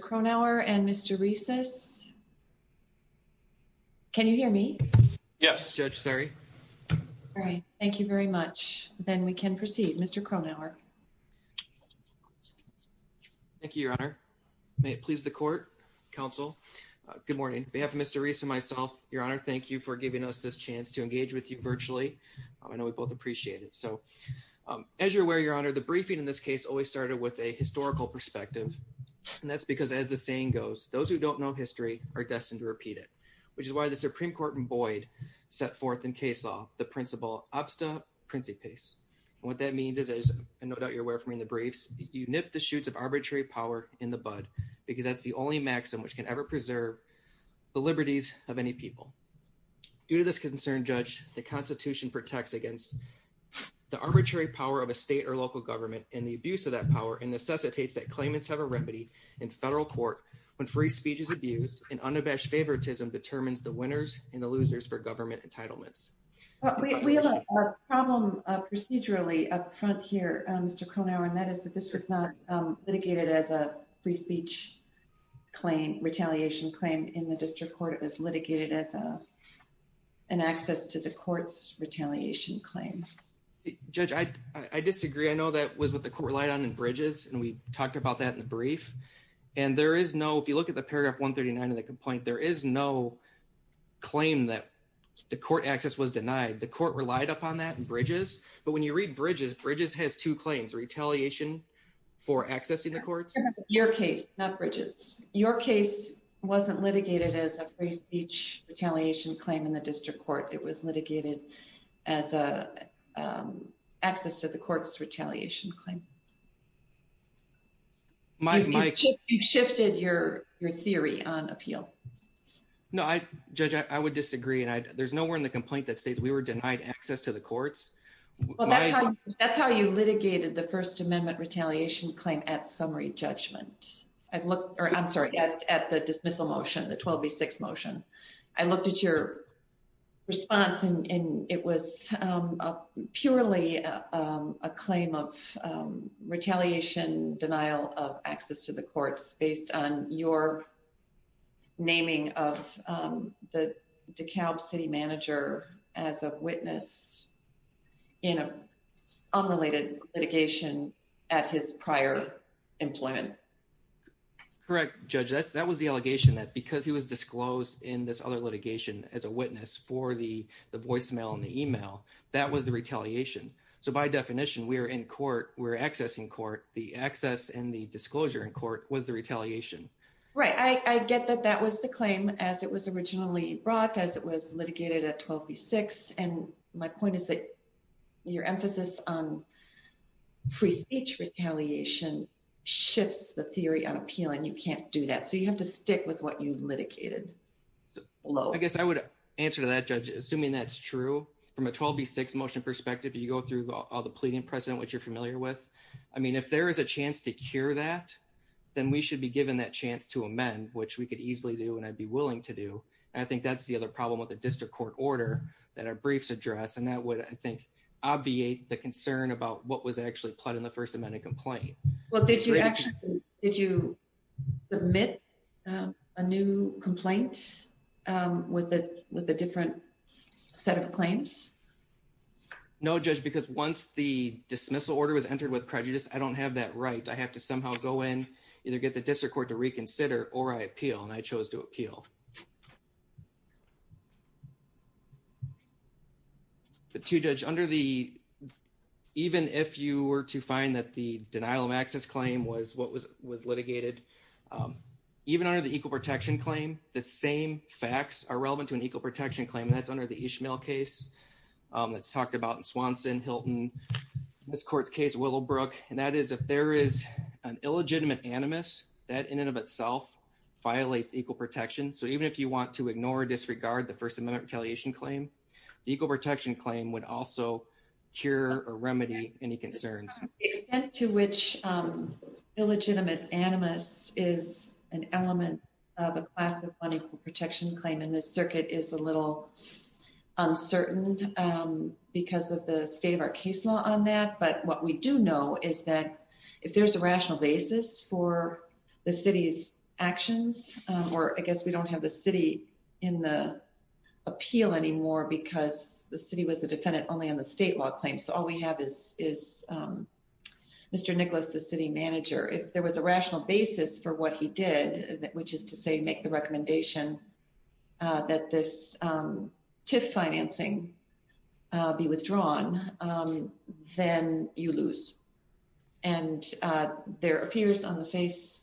Cronauer and Mr. Reese's. Can you hear me? Yes, just sorry. Thank you very much. Then we can proceed Mr. Kroner. Thank you, Your Honor. May it please the court counsel. Good morning, Your Honor. Thank you for giving us this chance to engage with you virtually. I know we both appreciate it. So as you're aware, Your Honor, the briefing in this case always started with a historical perspective. And that's because as the saying goes, those who don't know history are destined to repeat it, which is why the Supreme Court in Boyd set forth in case law, the principle, abstra principis. And what that means is, as no doubt you're aware from in the briefs, you nip the shoots of arbitrary power in the bud because that's the only maxim which can ever preserve the liberties of any people. Due to this concern, Judge, the Constitution protects against the arbitrary power of a state or local government and the abuse of that power and necessitates that claimants have a remedy in federal court when free speech is abused and unabashed favoritism determines the winners and the losers for government entitlements. We have a problem procedurally up front here, Mr. Cronauer, and that is that this was not litigated as a free speech claim, retaliation claim in the district court. It was litigated as an access to the court's retaliation claim. Judge, I disagree. I know that was what the court relied on in Bridges, and we talked about that in the brief. And there is no, if you look at the paragraph 139 of the complaint, there is no claim that the court access was denied. The court relied upon that in Bridges. But when you read Bridges, Bridges has two claims, retaliation for accessing the courts. Your case, not Bridges. Your case wasn't litigated as a free speech, retaliation claim in the district court. It was litigated as a access to the court's retaliation claim. You've shifted your theory on appeal. No, I, Judge, I would disagree. And there's nowhere in the complaint that states we were Well, that's how you litigated the First Amendment retaliation claim at summary judgment. I've looked, or I'm sorry, at the dismissal motion, the 12 v. 6 motion. I looked at your response and it was purely a claim of retaliation denial of access to the courts based on your naming of the DeKalb city manager as a witness in a unrelated litigation at his prior employment. Correct, Judge. That was the allegation that because he was disclosed in this other litigation as a witness for the voicemail and the email, that was the retaliation. So by definition, we are in court, we're accessing court, the access and the disclosure in court was the retaliation. Right. I get that that was the claim as it was originally brought as it was litigated at 12 v. 6. And my point is that your emphasis on free speech retaliation shifts the theory on appeal and you can't do that. So you have to stick with what you litigated. I guess I would answer to that, Judge, assuming that's true from a 12 v. 6 motion perspective, you go through all the pleading precedent, which you're familiar with. I mean, if there is a chance to cure that, then we should be given that chance to amend, which we could easily do and I'd be willing to do. And I think that's the other problem with the district court order that our briefs address. And that would, I think, obviate the concern about what was actually pled in the First Amendment complaint. Well, did you actually, did you submit a new complaint with a different set of claims? No, Judge, because once the dismissal order was entered with prejudice, I don't have that right. I have to somehow go in, either get the district court to reconsider or I appeal and I chose to appeal. But too, Judge, under the, even if you were to find that the denial of access claim was what was litigated, even under the equal protection claim, the same facts are relevant to an equal protection claim and that's under the Ishmael case that's talked about in Swanson, Hilton, this court's case, Willowbrook. And that is if there is an illegitimate animus that in and of itself violates equal protection. So even if you want to ignore or disregard the First Amendment retaliation claim, the equal protection claim would also cure or remedy any concerns. The extent to which illegitimate animus is an element of a class of unequal protection claim in this circuit is a little uncertain because of the state of our case law on that. But what we do know is that if there's a rational basis for the city's actions, or I guess we don't have the city in the appeal anymore because the city was a defendant only on the state law claim, so all we have is Mr. Nicholas, the city manager. If there was a rational basis for what he did, which is to say make the recommendation that this TIF financing be withdrawn, then you lose. And there appears on the face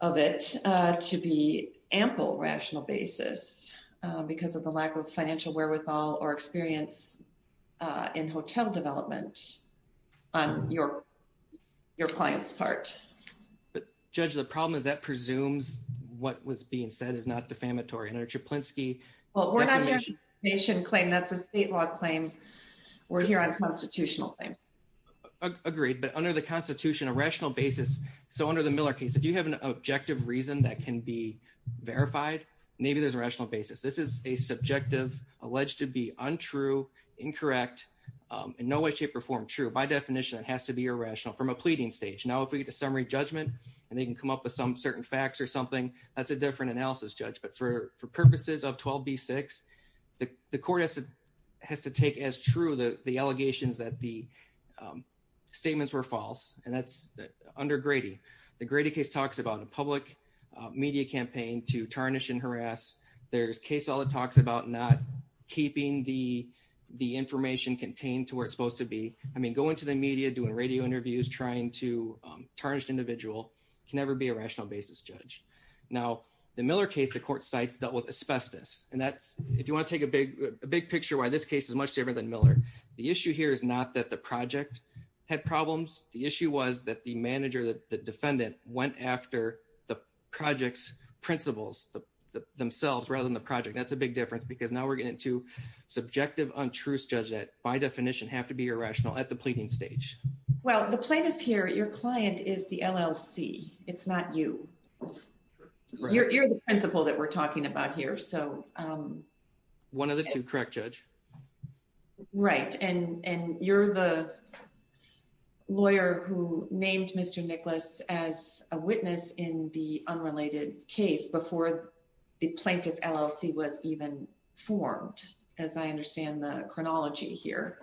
of it to be ample rational basis because of the lack of financial wherewithal or experience in hotel development on your client's part. But Judge, the problem is that presumes what was being said is not defamatory. And under Czaplinski, well, we're not going to nation claim. That's a state law claim. We're here on constitutional claim. Agreed. But under the Constitution, a rational basis. So under the Miller case, if you have an objective reason that can be verified, maybe there's a rational basis. This is a subjective, alleged to be untrue, incorrect, and no way, shape, or form true. By definition, it has to be irrational from a pleading stage. Now, if we get a summary judgment and they can come up with some certain facts or something, that's a different analysis, Judge. But for purposes of 12B6, the court has to take as true the allegations that the statements were false, and that's under Grady. The Grady case talks about a public media campaign to tarnish and harass. There's case law that talks about not keeping the information contained to where it's supposed to be. I mean, going to the media, doing radio interviews, trying to tarnish an individual, can never be a rational basis, Judge. Now, the Miller case, the court cites, dealt with asbestos. And that's, if you want to take a big picture why this case is much different than Miller. The issue here is not that the project had problems. The issue was that the manager, the defendant, went after the project's principals themselves rather than the project. That's a big difference because now we're getting into subjective, untruths, Judge, that by the plaintiff. Well, the plaintiff here, your client, is the LLC. It's not you. You're the principal that we're talking about here. One of the two, correct, Judge? Right. And you're the lawyer who named Mr. Nicholas as a witness in the unrelated case before the plaintiff LLC was even formed, as I understand the chronology here.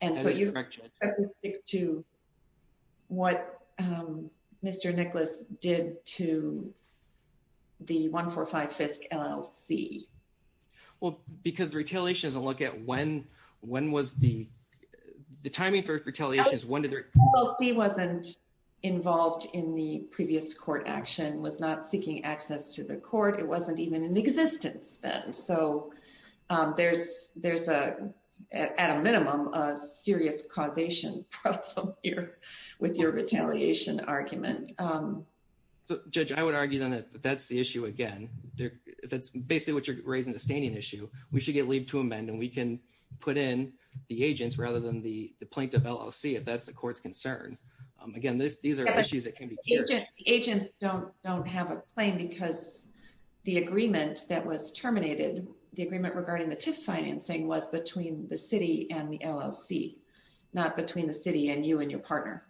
And so you have to stick to what Mr. Nicholas did to the 145 Fisk LLC. Well, because the retaliation doesn't look at when, when was the timing for retaliations, when did the... The LLC wasn't involved in the previous court action, was not seeking access to the court. It wasn't even in existence then. So there's a, at a minimum, a serious causation problem here with your retaliation argument. Judge, I would argue then that that's the issue again. That's basically what you're raising the standing issue. We should get leave to amend and we can put in the agents rather than the plaintiff LLC if that's the court's concern. Again, these are issues that can be... The agents don't have a claim because the agreement that was terminated, the agreement regarding the TIF financing was between the city and the LLC, not between the city and you and your partner.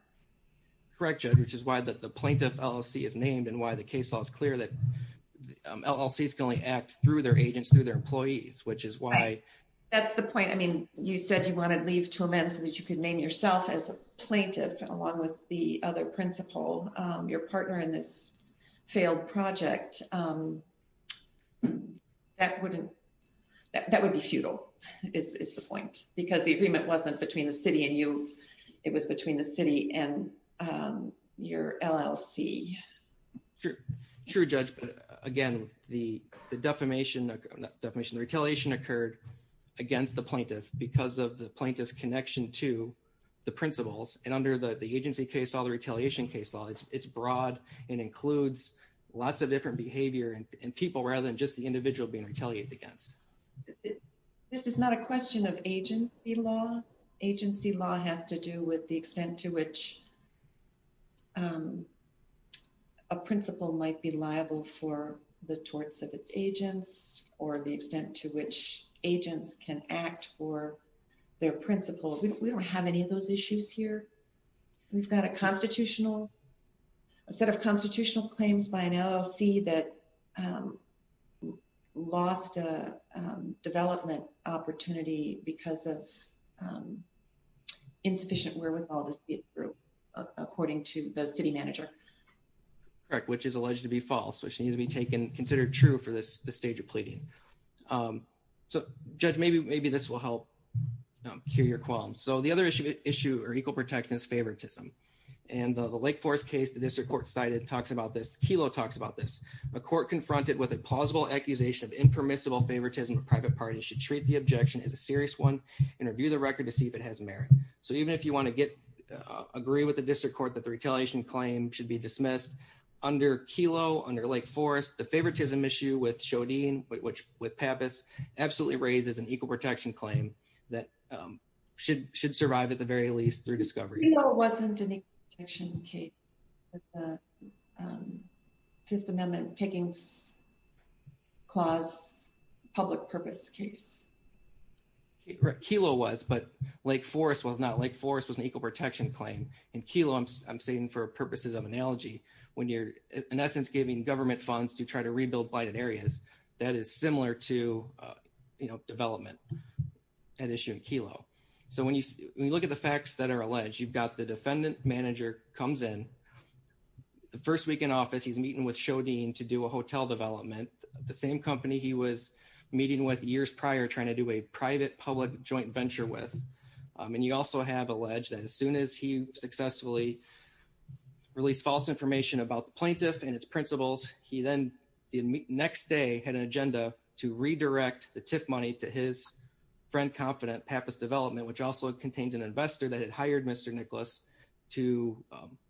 Correct, Judge, which is why the plaintiff LLC is named and why the case law is clear that LLCs can only act through their agents, through their employees, which is why... That's the point. I mean, you said you wanted leave to amend so that you could name yourself as a plaintiff along with the other principal, your partner in this failed project. That wouldn't... That would be futile, is the point, because the agreement wasn't between the city and you. It was between the city and your LLC. True, Judge, but again, the defamation, not defamation, retaliation occurred against the plaintiff because of the plaintiff's connection to the principals and under the agency case law, the retaliation case law, it's broad and includes lots of different behavior and people rather than just the individual being retaliated against. This is not a question of agency law. Agency law has to do with the extent to which a principal might be liable for the torts of its agents or the extent to which agents can act for their principals. We don't have any of those issues here. We've got a constitutional, a set of constitutional claims by an LLC that lost a development opportunity because of according to the city manager. Correct, which is alleged to be false, which needs to be taken considered true for this stage of pleading. So Judge, maybe this will help cure your qualms. So the other issue or equal protection is favoritism. And the Lake Forest case the district court cited talks about this, Kelo talks about this. A court confronted with a plausible accusation of impermissible favoritism of private parties should treat the objection as a serious one and review the record to see if it has merit. So even if you want to get... Retaliation claim should be dismissed under Kelo, under Lake Forest, the favoritism issue with Shodin, which with Pappas absolutely raises an equal protection claim that should survive at the very least through discovery. Kelo wasn't an equal protection case. Just amendment taking clause public purpose case. Kelo was, but Lake Forest was not. Lake Forest was an equal protection claim. And Kelo, I'm saying for purposes of analogy, when you're in essence giving government funds to try to rebuild blighted areas, that is similar to development at issue in Kelo. So when you look at the facts that are alleged, you've got the defendant manager comes in the first week in office, he's meeting with Shodin to do a hotel development, the same company he was meeting with years prior trying to do a private public joint venture with. And you also have alleged that as soon as he successfully released false information about the plaintiff and its principles, he then the next day had an agenda to redirect the TIF money to his friend, confident Pappas Development, which also contains an investor that had hired Mr. Nicholas to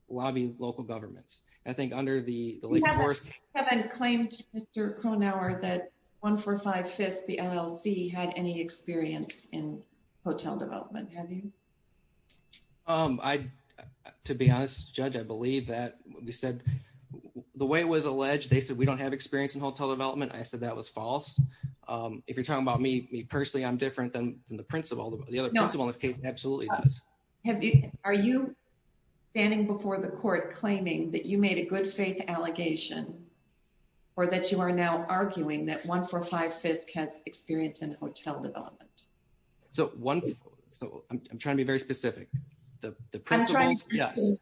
lobby local governments. I think under the Lake Forest... Mr. Cronauer, that 145 Fifth, the LLC had any experience in hotel development, have you? To be honest, Judge, I believe that we said the way it was alleged, they said we don't have experience in hotel development. I said that was false. If you're talking about me, me personally, I'm different than the principal. The other principal in this case absolutely does. Are you standing before the court claiming that you made a good faith allegation or that you are now arguing that 145 Fifth has experience in hotel development? So I'm trying to be very specific. The principals, yes.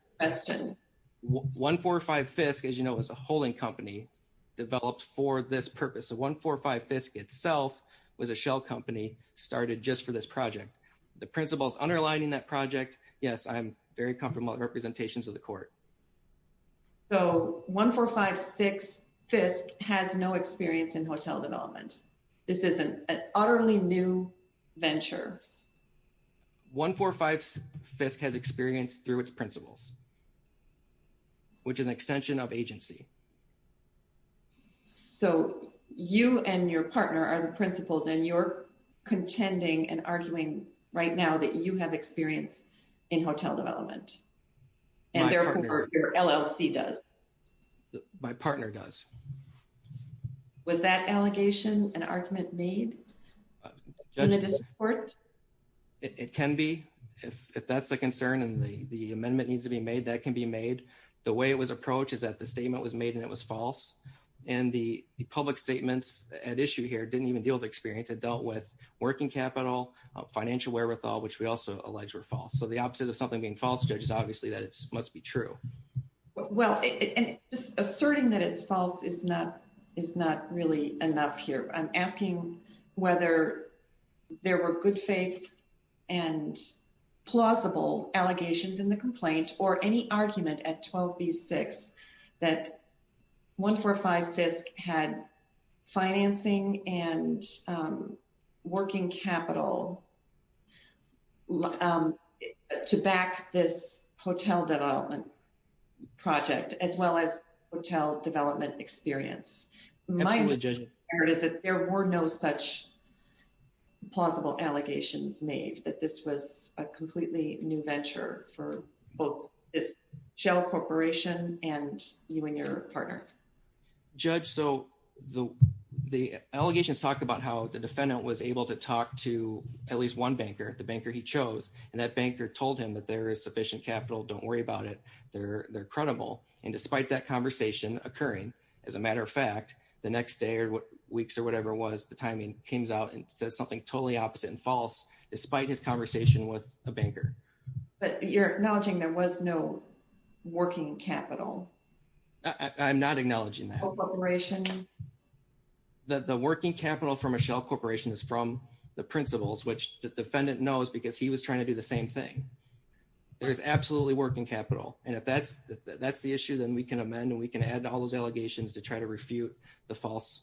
145 Fifth, as you know, is a holding company developed for this purpose. So 145 Fifth itself was a shell company started just for this project. The principals underlining that project, yes, I'm very comfortable with representations to the court. So 145 Sixth Fifth has no experience in hotel development. This is an utterly new venture. 145 Fifth has experience through its principles, which is an extension of agency. So you and your partner are the principals and you're contending and arguing right now that you have experience in hotel development. And therefore, your LLC does. My partner does. Was that allegation an argument made in the district court? It can be. If that's the concern and the amendment needs to be made, that can be made. The way it was approached is that the statement was made and it was false. And the public statements at issue here didn't even deal with experience. It dealt with working capital, financial wherewithal, which we also allege were false. So the opposite of something being false, Judge, is obviously that it must be true. Well, just asserting that it's and plausible allegations in the complaint or any argument at 12B6 that 145 Fifth had financing and working capital to back this hotel development project, as well as hotel experience. There were no such plausible allegations made that this was a completely new venture for both Shell Corporation and you and your partner. Judge, so the allegations talk about how the defendant was able to talk to at least one banker, the banker he chose, and that banker told him that there is sufficient capital. Don't worry about it. They're credible. And despite that conversation occurring, as a matter of fact, the next day or weeks or whatever it was, the timing came out and said something totally opposite and false, despite his conversation with a banker. But you're acknowledging there was no working capital? I'm not acknowledging that. The working capital for Michelle Corporation is from the principals, which the defendant knows because he was trying to do the same thing. There is absolutely working capital. And if that's that's the issue, then we can amend and we can add to all those allegations to try to refute the false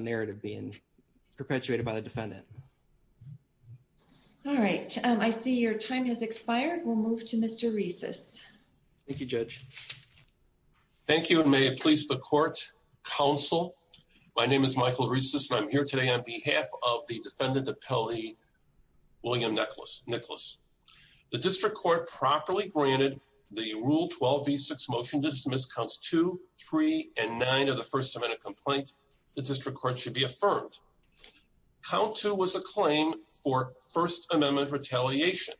narrative being perpetuated by the defendant. All right. I see your time has expired. We'll move to Mr. Reese's. Thank you, Judge. Thank you. And may it please the court counsel. My name is Michael Reese's. I'm here on behalf of the defendant, William Nicholas. The district court properly granted the rule 12B6 motion to dismiss counts two, three, and nine of the First Amendment complaint. The district court should be affirmed. Count two was a claim for First Amendment retaliation.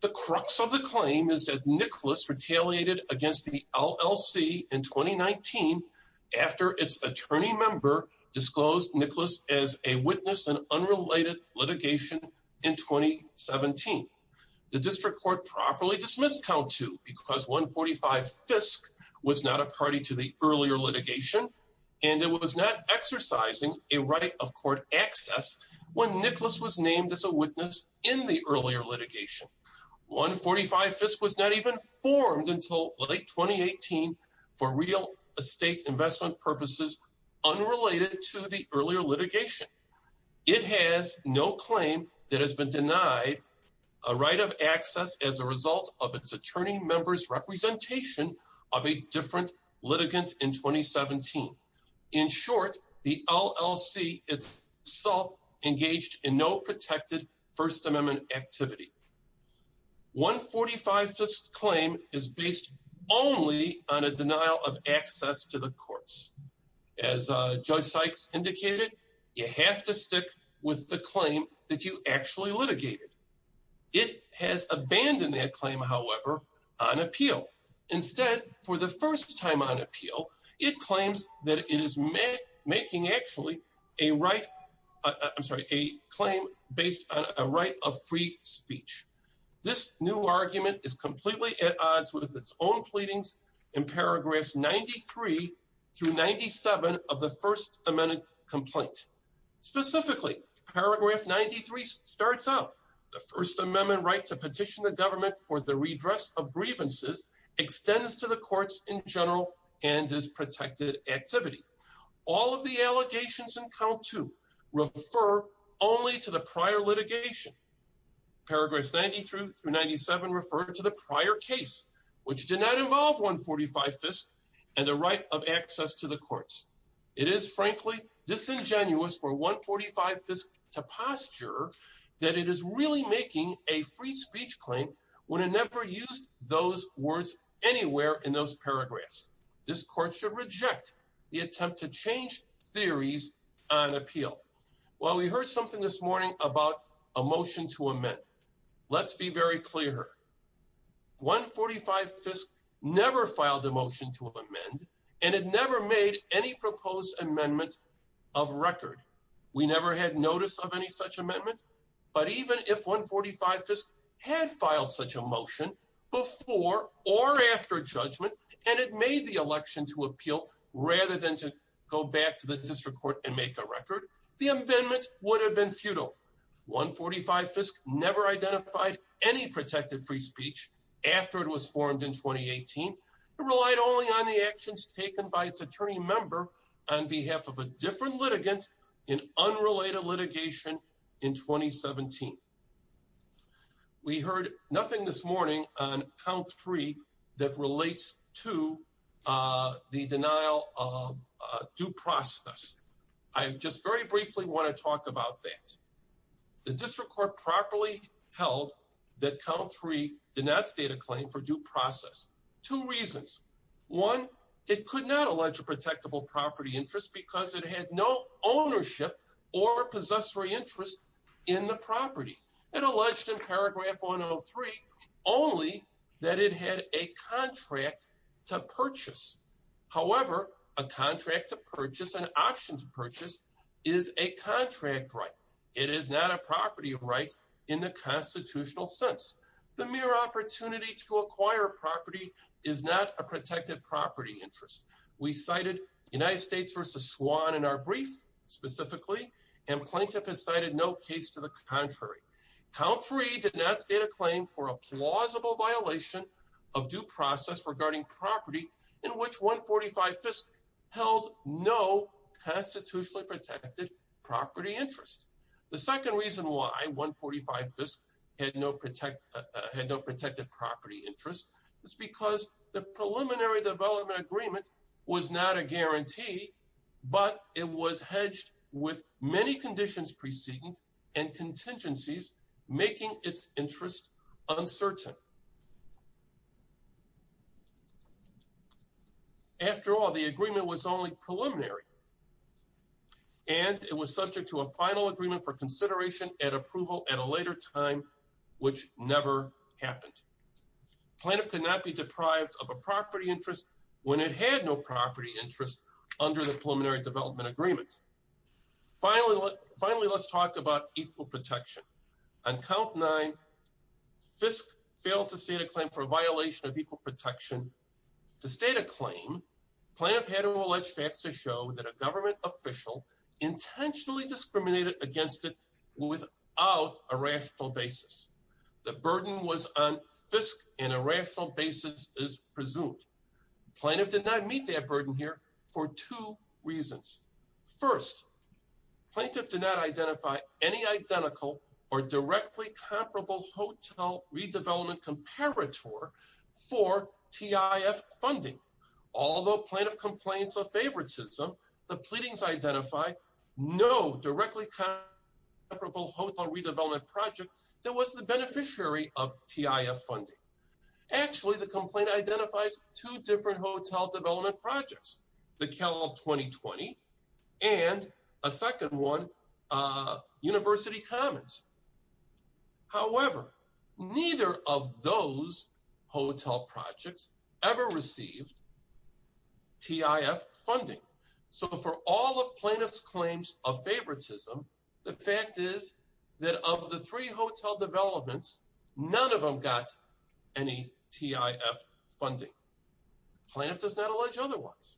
The crux of the claim is that Nicholas retaliated against the LLC in 2019 after its attorney member disclosed Nicholas as a witness in unrelated litigation in 2017. The district court properly dismissed count two because 145 Fisk was not a party to the earlier litigation and it was not exercising a right of court access when Nicholas was named as a witness in the earlier litigation. 145 Fisk was not even formed until late 2018 for real estate investment purposes unrelated to the litigation. It has no claim that has been denied a right of access as a result of its attorney member's representation of a different litigant in 2017. In short, the LLC itself engaged in no protected First Amendment activity. 145 Fisk's claim is based only on a denial of access to the you have to stick with the claim that you actually litigated. It has abandoned that claim, however, on appeal. Instead, for the first time on appeal, it claims that it is making actually a right, I'm sorry, a claim based on a right of free speech. This new argument is completely at Specifically, paragraph 93 starts out the First Amendment right to petition the government for the redress of grievances extends to the courts in general and is protected activity. All of the allegations in count to refer only to the prior litigation. Paragraphs 93 through 97 referred to the prior case, which did not involve 145 Fisk and the right of access to the courts. It is frankly, disingenuous for 145 Fisk to posture that it is really making a free speech claim when it never used those words anywhere in those paragraphs. This court should reject the attempt to change theories on appeal. Well, we heard something this morning about a motion to amend. Let's be very clear. 145 Fisk never filed a motion to amend, and it never made any proposed amendment of record. We never had notice of any such amendment. But even if 145 Fisk had filed such a motion before or after judgment, and it made the election to appeal, rather than to go back to the district court and make a record, the amendment would have been futile. 145 Fisk never identified any protected free speech after it was formed in 2018. It relied only on the actions taken by its attorney member on behalf of a different litigant in unrelated litigation in 2017. We heard nothing this morning on count three that relates to the denial of due process. I just very briefly want to talk about that. The district court properly held that count three did not state a claim for due process. Two reasons. One, it could not allege a protectable property interest because it had no property interest. Only that it had a contract to purchase. However, a contract to purchase, an option to purchase, is a contract right. It is not a property right in the constitutional sense. The mere opportunity to acquire property is not a protected property interest. We cited United States v. Swan in our brief specifically, and plaintiff has cited no case to the contrary. Count three did not state a claim for a plausible violation of due process regarding property in which 145 Fisk held no constitutionally protected property interest. The second reason why 145 Fisk had no protected property interest is because the preliminary development agreement was not a guarantee, but it was hedged with many conditions preceding and contingencies making its interest uncertain. After all, the agreement was only preliminary, and it was subject to a final agreement for consideration and approval at a later time, which never happened. Plaintiff could not be deprived of a property interest when it had no property interest under the preliminary development agreement. Finally, let's talk about equal protection. On count nine, Fisk failed to state a claim for a violation of equal protection. To state a claim, plaintiff had to allege facts to show that a burden was on Fisk and a rational basis is presumed. Plaintiff did not meet that burden here for two reasons. First, plaintiff did not identify any identical or directly comparable hotel redevelopment comparator for TIF funding. Although plaintiff complains of favoritism, the pleadings identify no directly comparable hotel redevelopment project that was the beneficiary of TIF funding. Actually, the complaint identifies two different hotel development projects, the Cal 2020 and a second one, University Commons. However, neither of those hotel projects ever received TIF funding. So for all of plaintiff's claims of favoritism, the fact is that of the three hotel developments, none of them got any TIF funding. Plaintiff does not allege otherwise.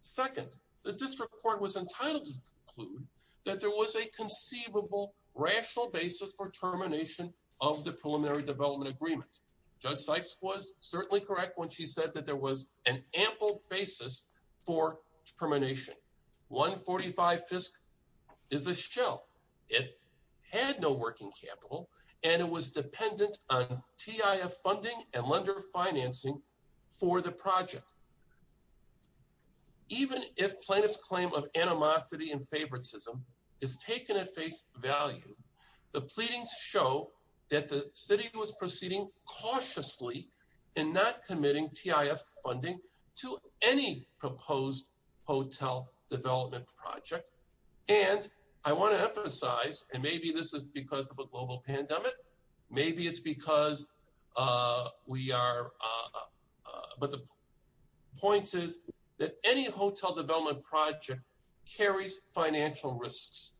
Second, the district court was entitled to conclude that there was a conceivable rational basis for termination of the preliminary development agreement. Judge Sykes was certainly correct when she said that there was an ample basis for termination. 145 Fisk is a shell. It had no working capital and it was dependent on TIF funding and lender financing for the project. Even if plaintiff's claim of animosity and cautiously in not committing TIF funding to any proposed hotel development project. And I want to emphasize, and maybe this is because of a global pandemic. Maybe it's because we are, but the point is that any hotel development project carries financial risks.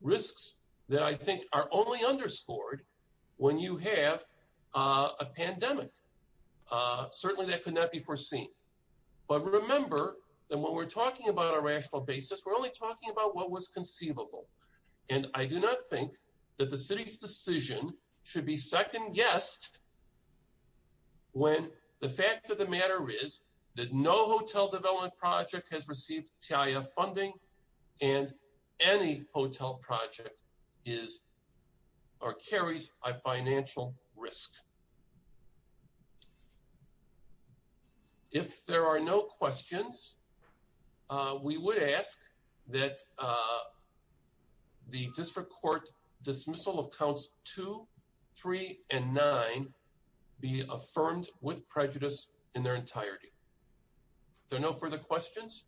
Risks that I think are only underscored when you have a pandemic. Certainly that could not be foreseen, but remember that when we're talking about a rational basis, we're only talking about what was conceivable. And I do not think that the city's decision should be second guessed when the fact of the matter is that no hotel development project has received TIF funding and any hotel project is or carries a financial risk. If there are no questions, we would ask that the district court dismissal of counts two, three, and nine be affirmed with prejudice in their entirety. There are no further questions.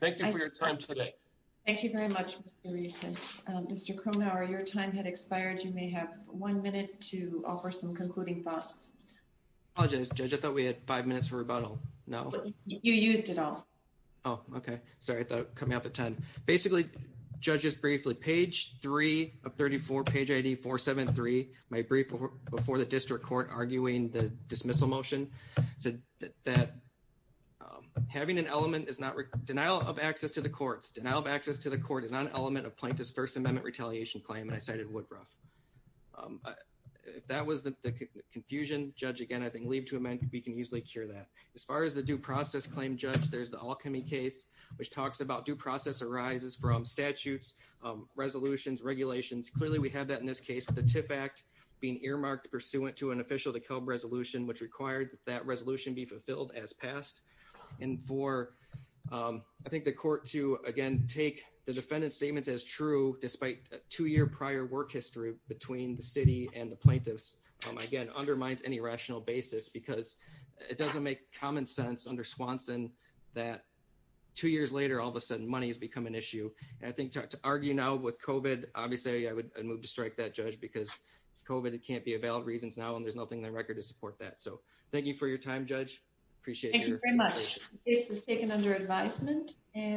Thank you for your time today. Thank you very much. Mr. Cronauer, your time had expired. You may have one minute to offer some concluding thoughts. I apologize, judge. I thought we had five minutes for rebuttal. No, you used it all. Oh, okay. Sorry. I thought coming up at 10, basically judges briefly page three of 34 page 84, seven, three, my brief before the district court arguing the dismissal motion said that um, having an element is not denial of access to the courts. Denial of access to the court is not an element of plaintiff's first amendment retaliation claim. And I cited Woodruff. Um, if that was the confusion judge, again, I think leave to amend, we can easily cure that as far as the due process claim judge, there's the alchemy case, which talks about due process arises from statutes, um, resolutions, regulations. Clearly we have that in this case with the TIF act being earmarked pursuant to an official decob resolution, which required that resolution be passed. And for, um, I think the court to again, take the defendant's statements as true, despite two year prior work history between the city and the plaintiffs, um, again, undermines any rational basis because it doesn't make common sense under Swanson that two years later, all of a sudden money has become an issue. And I think to argue now with COVID, obviously I would move to strike that judge because COVID, it can't be a valid reasons now. And there's nothing in Appreciate it. Thank you very much. It was taken under advisement and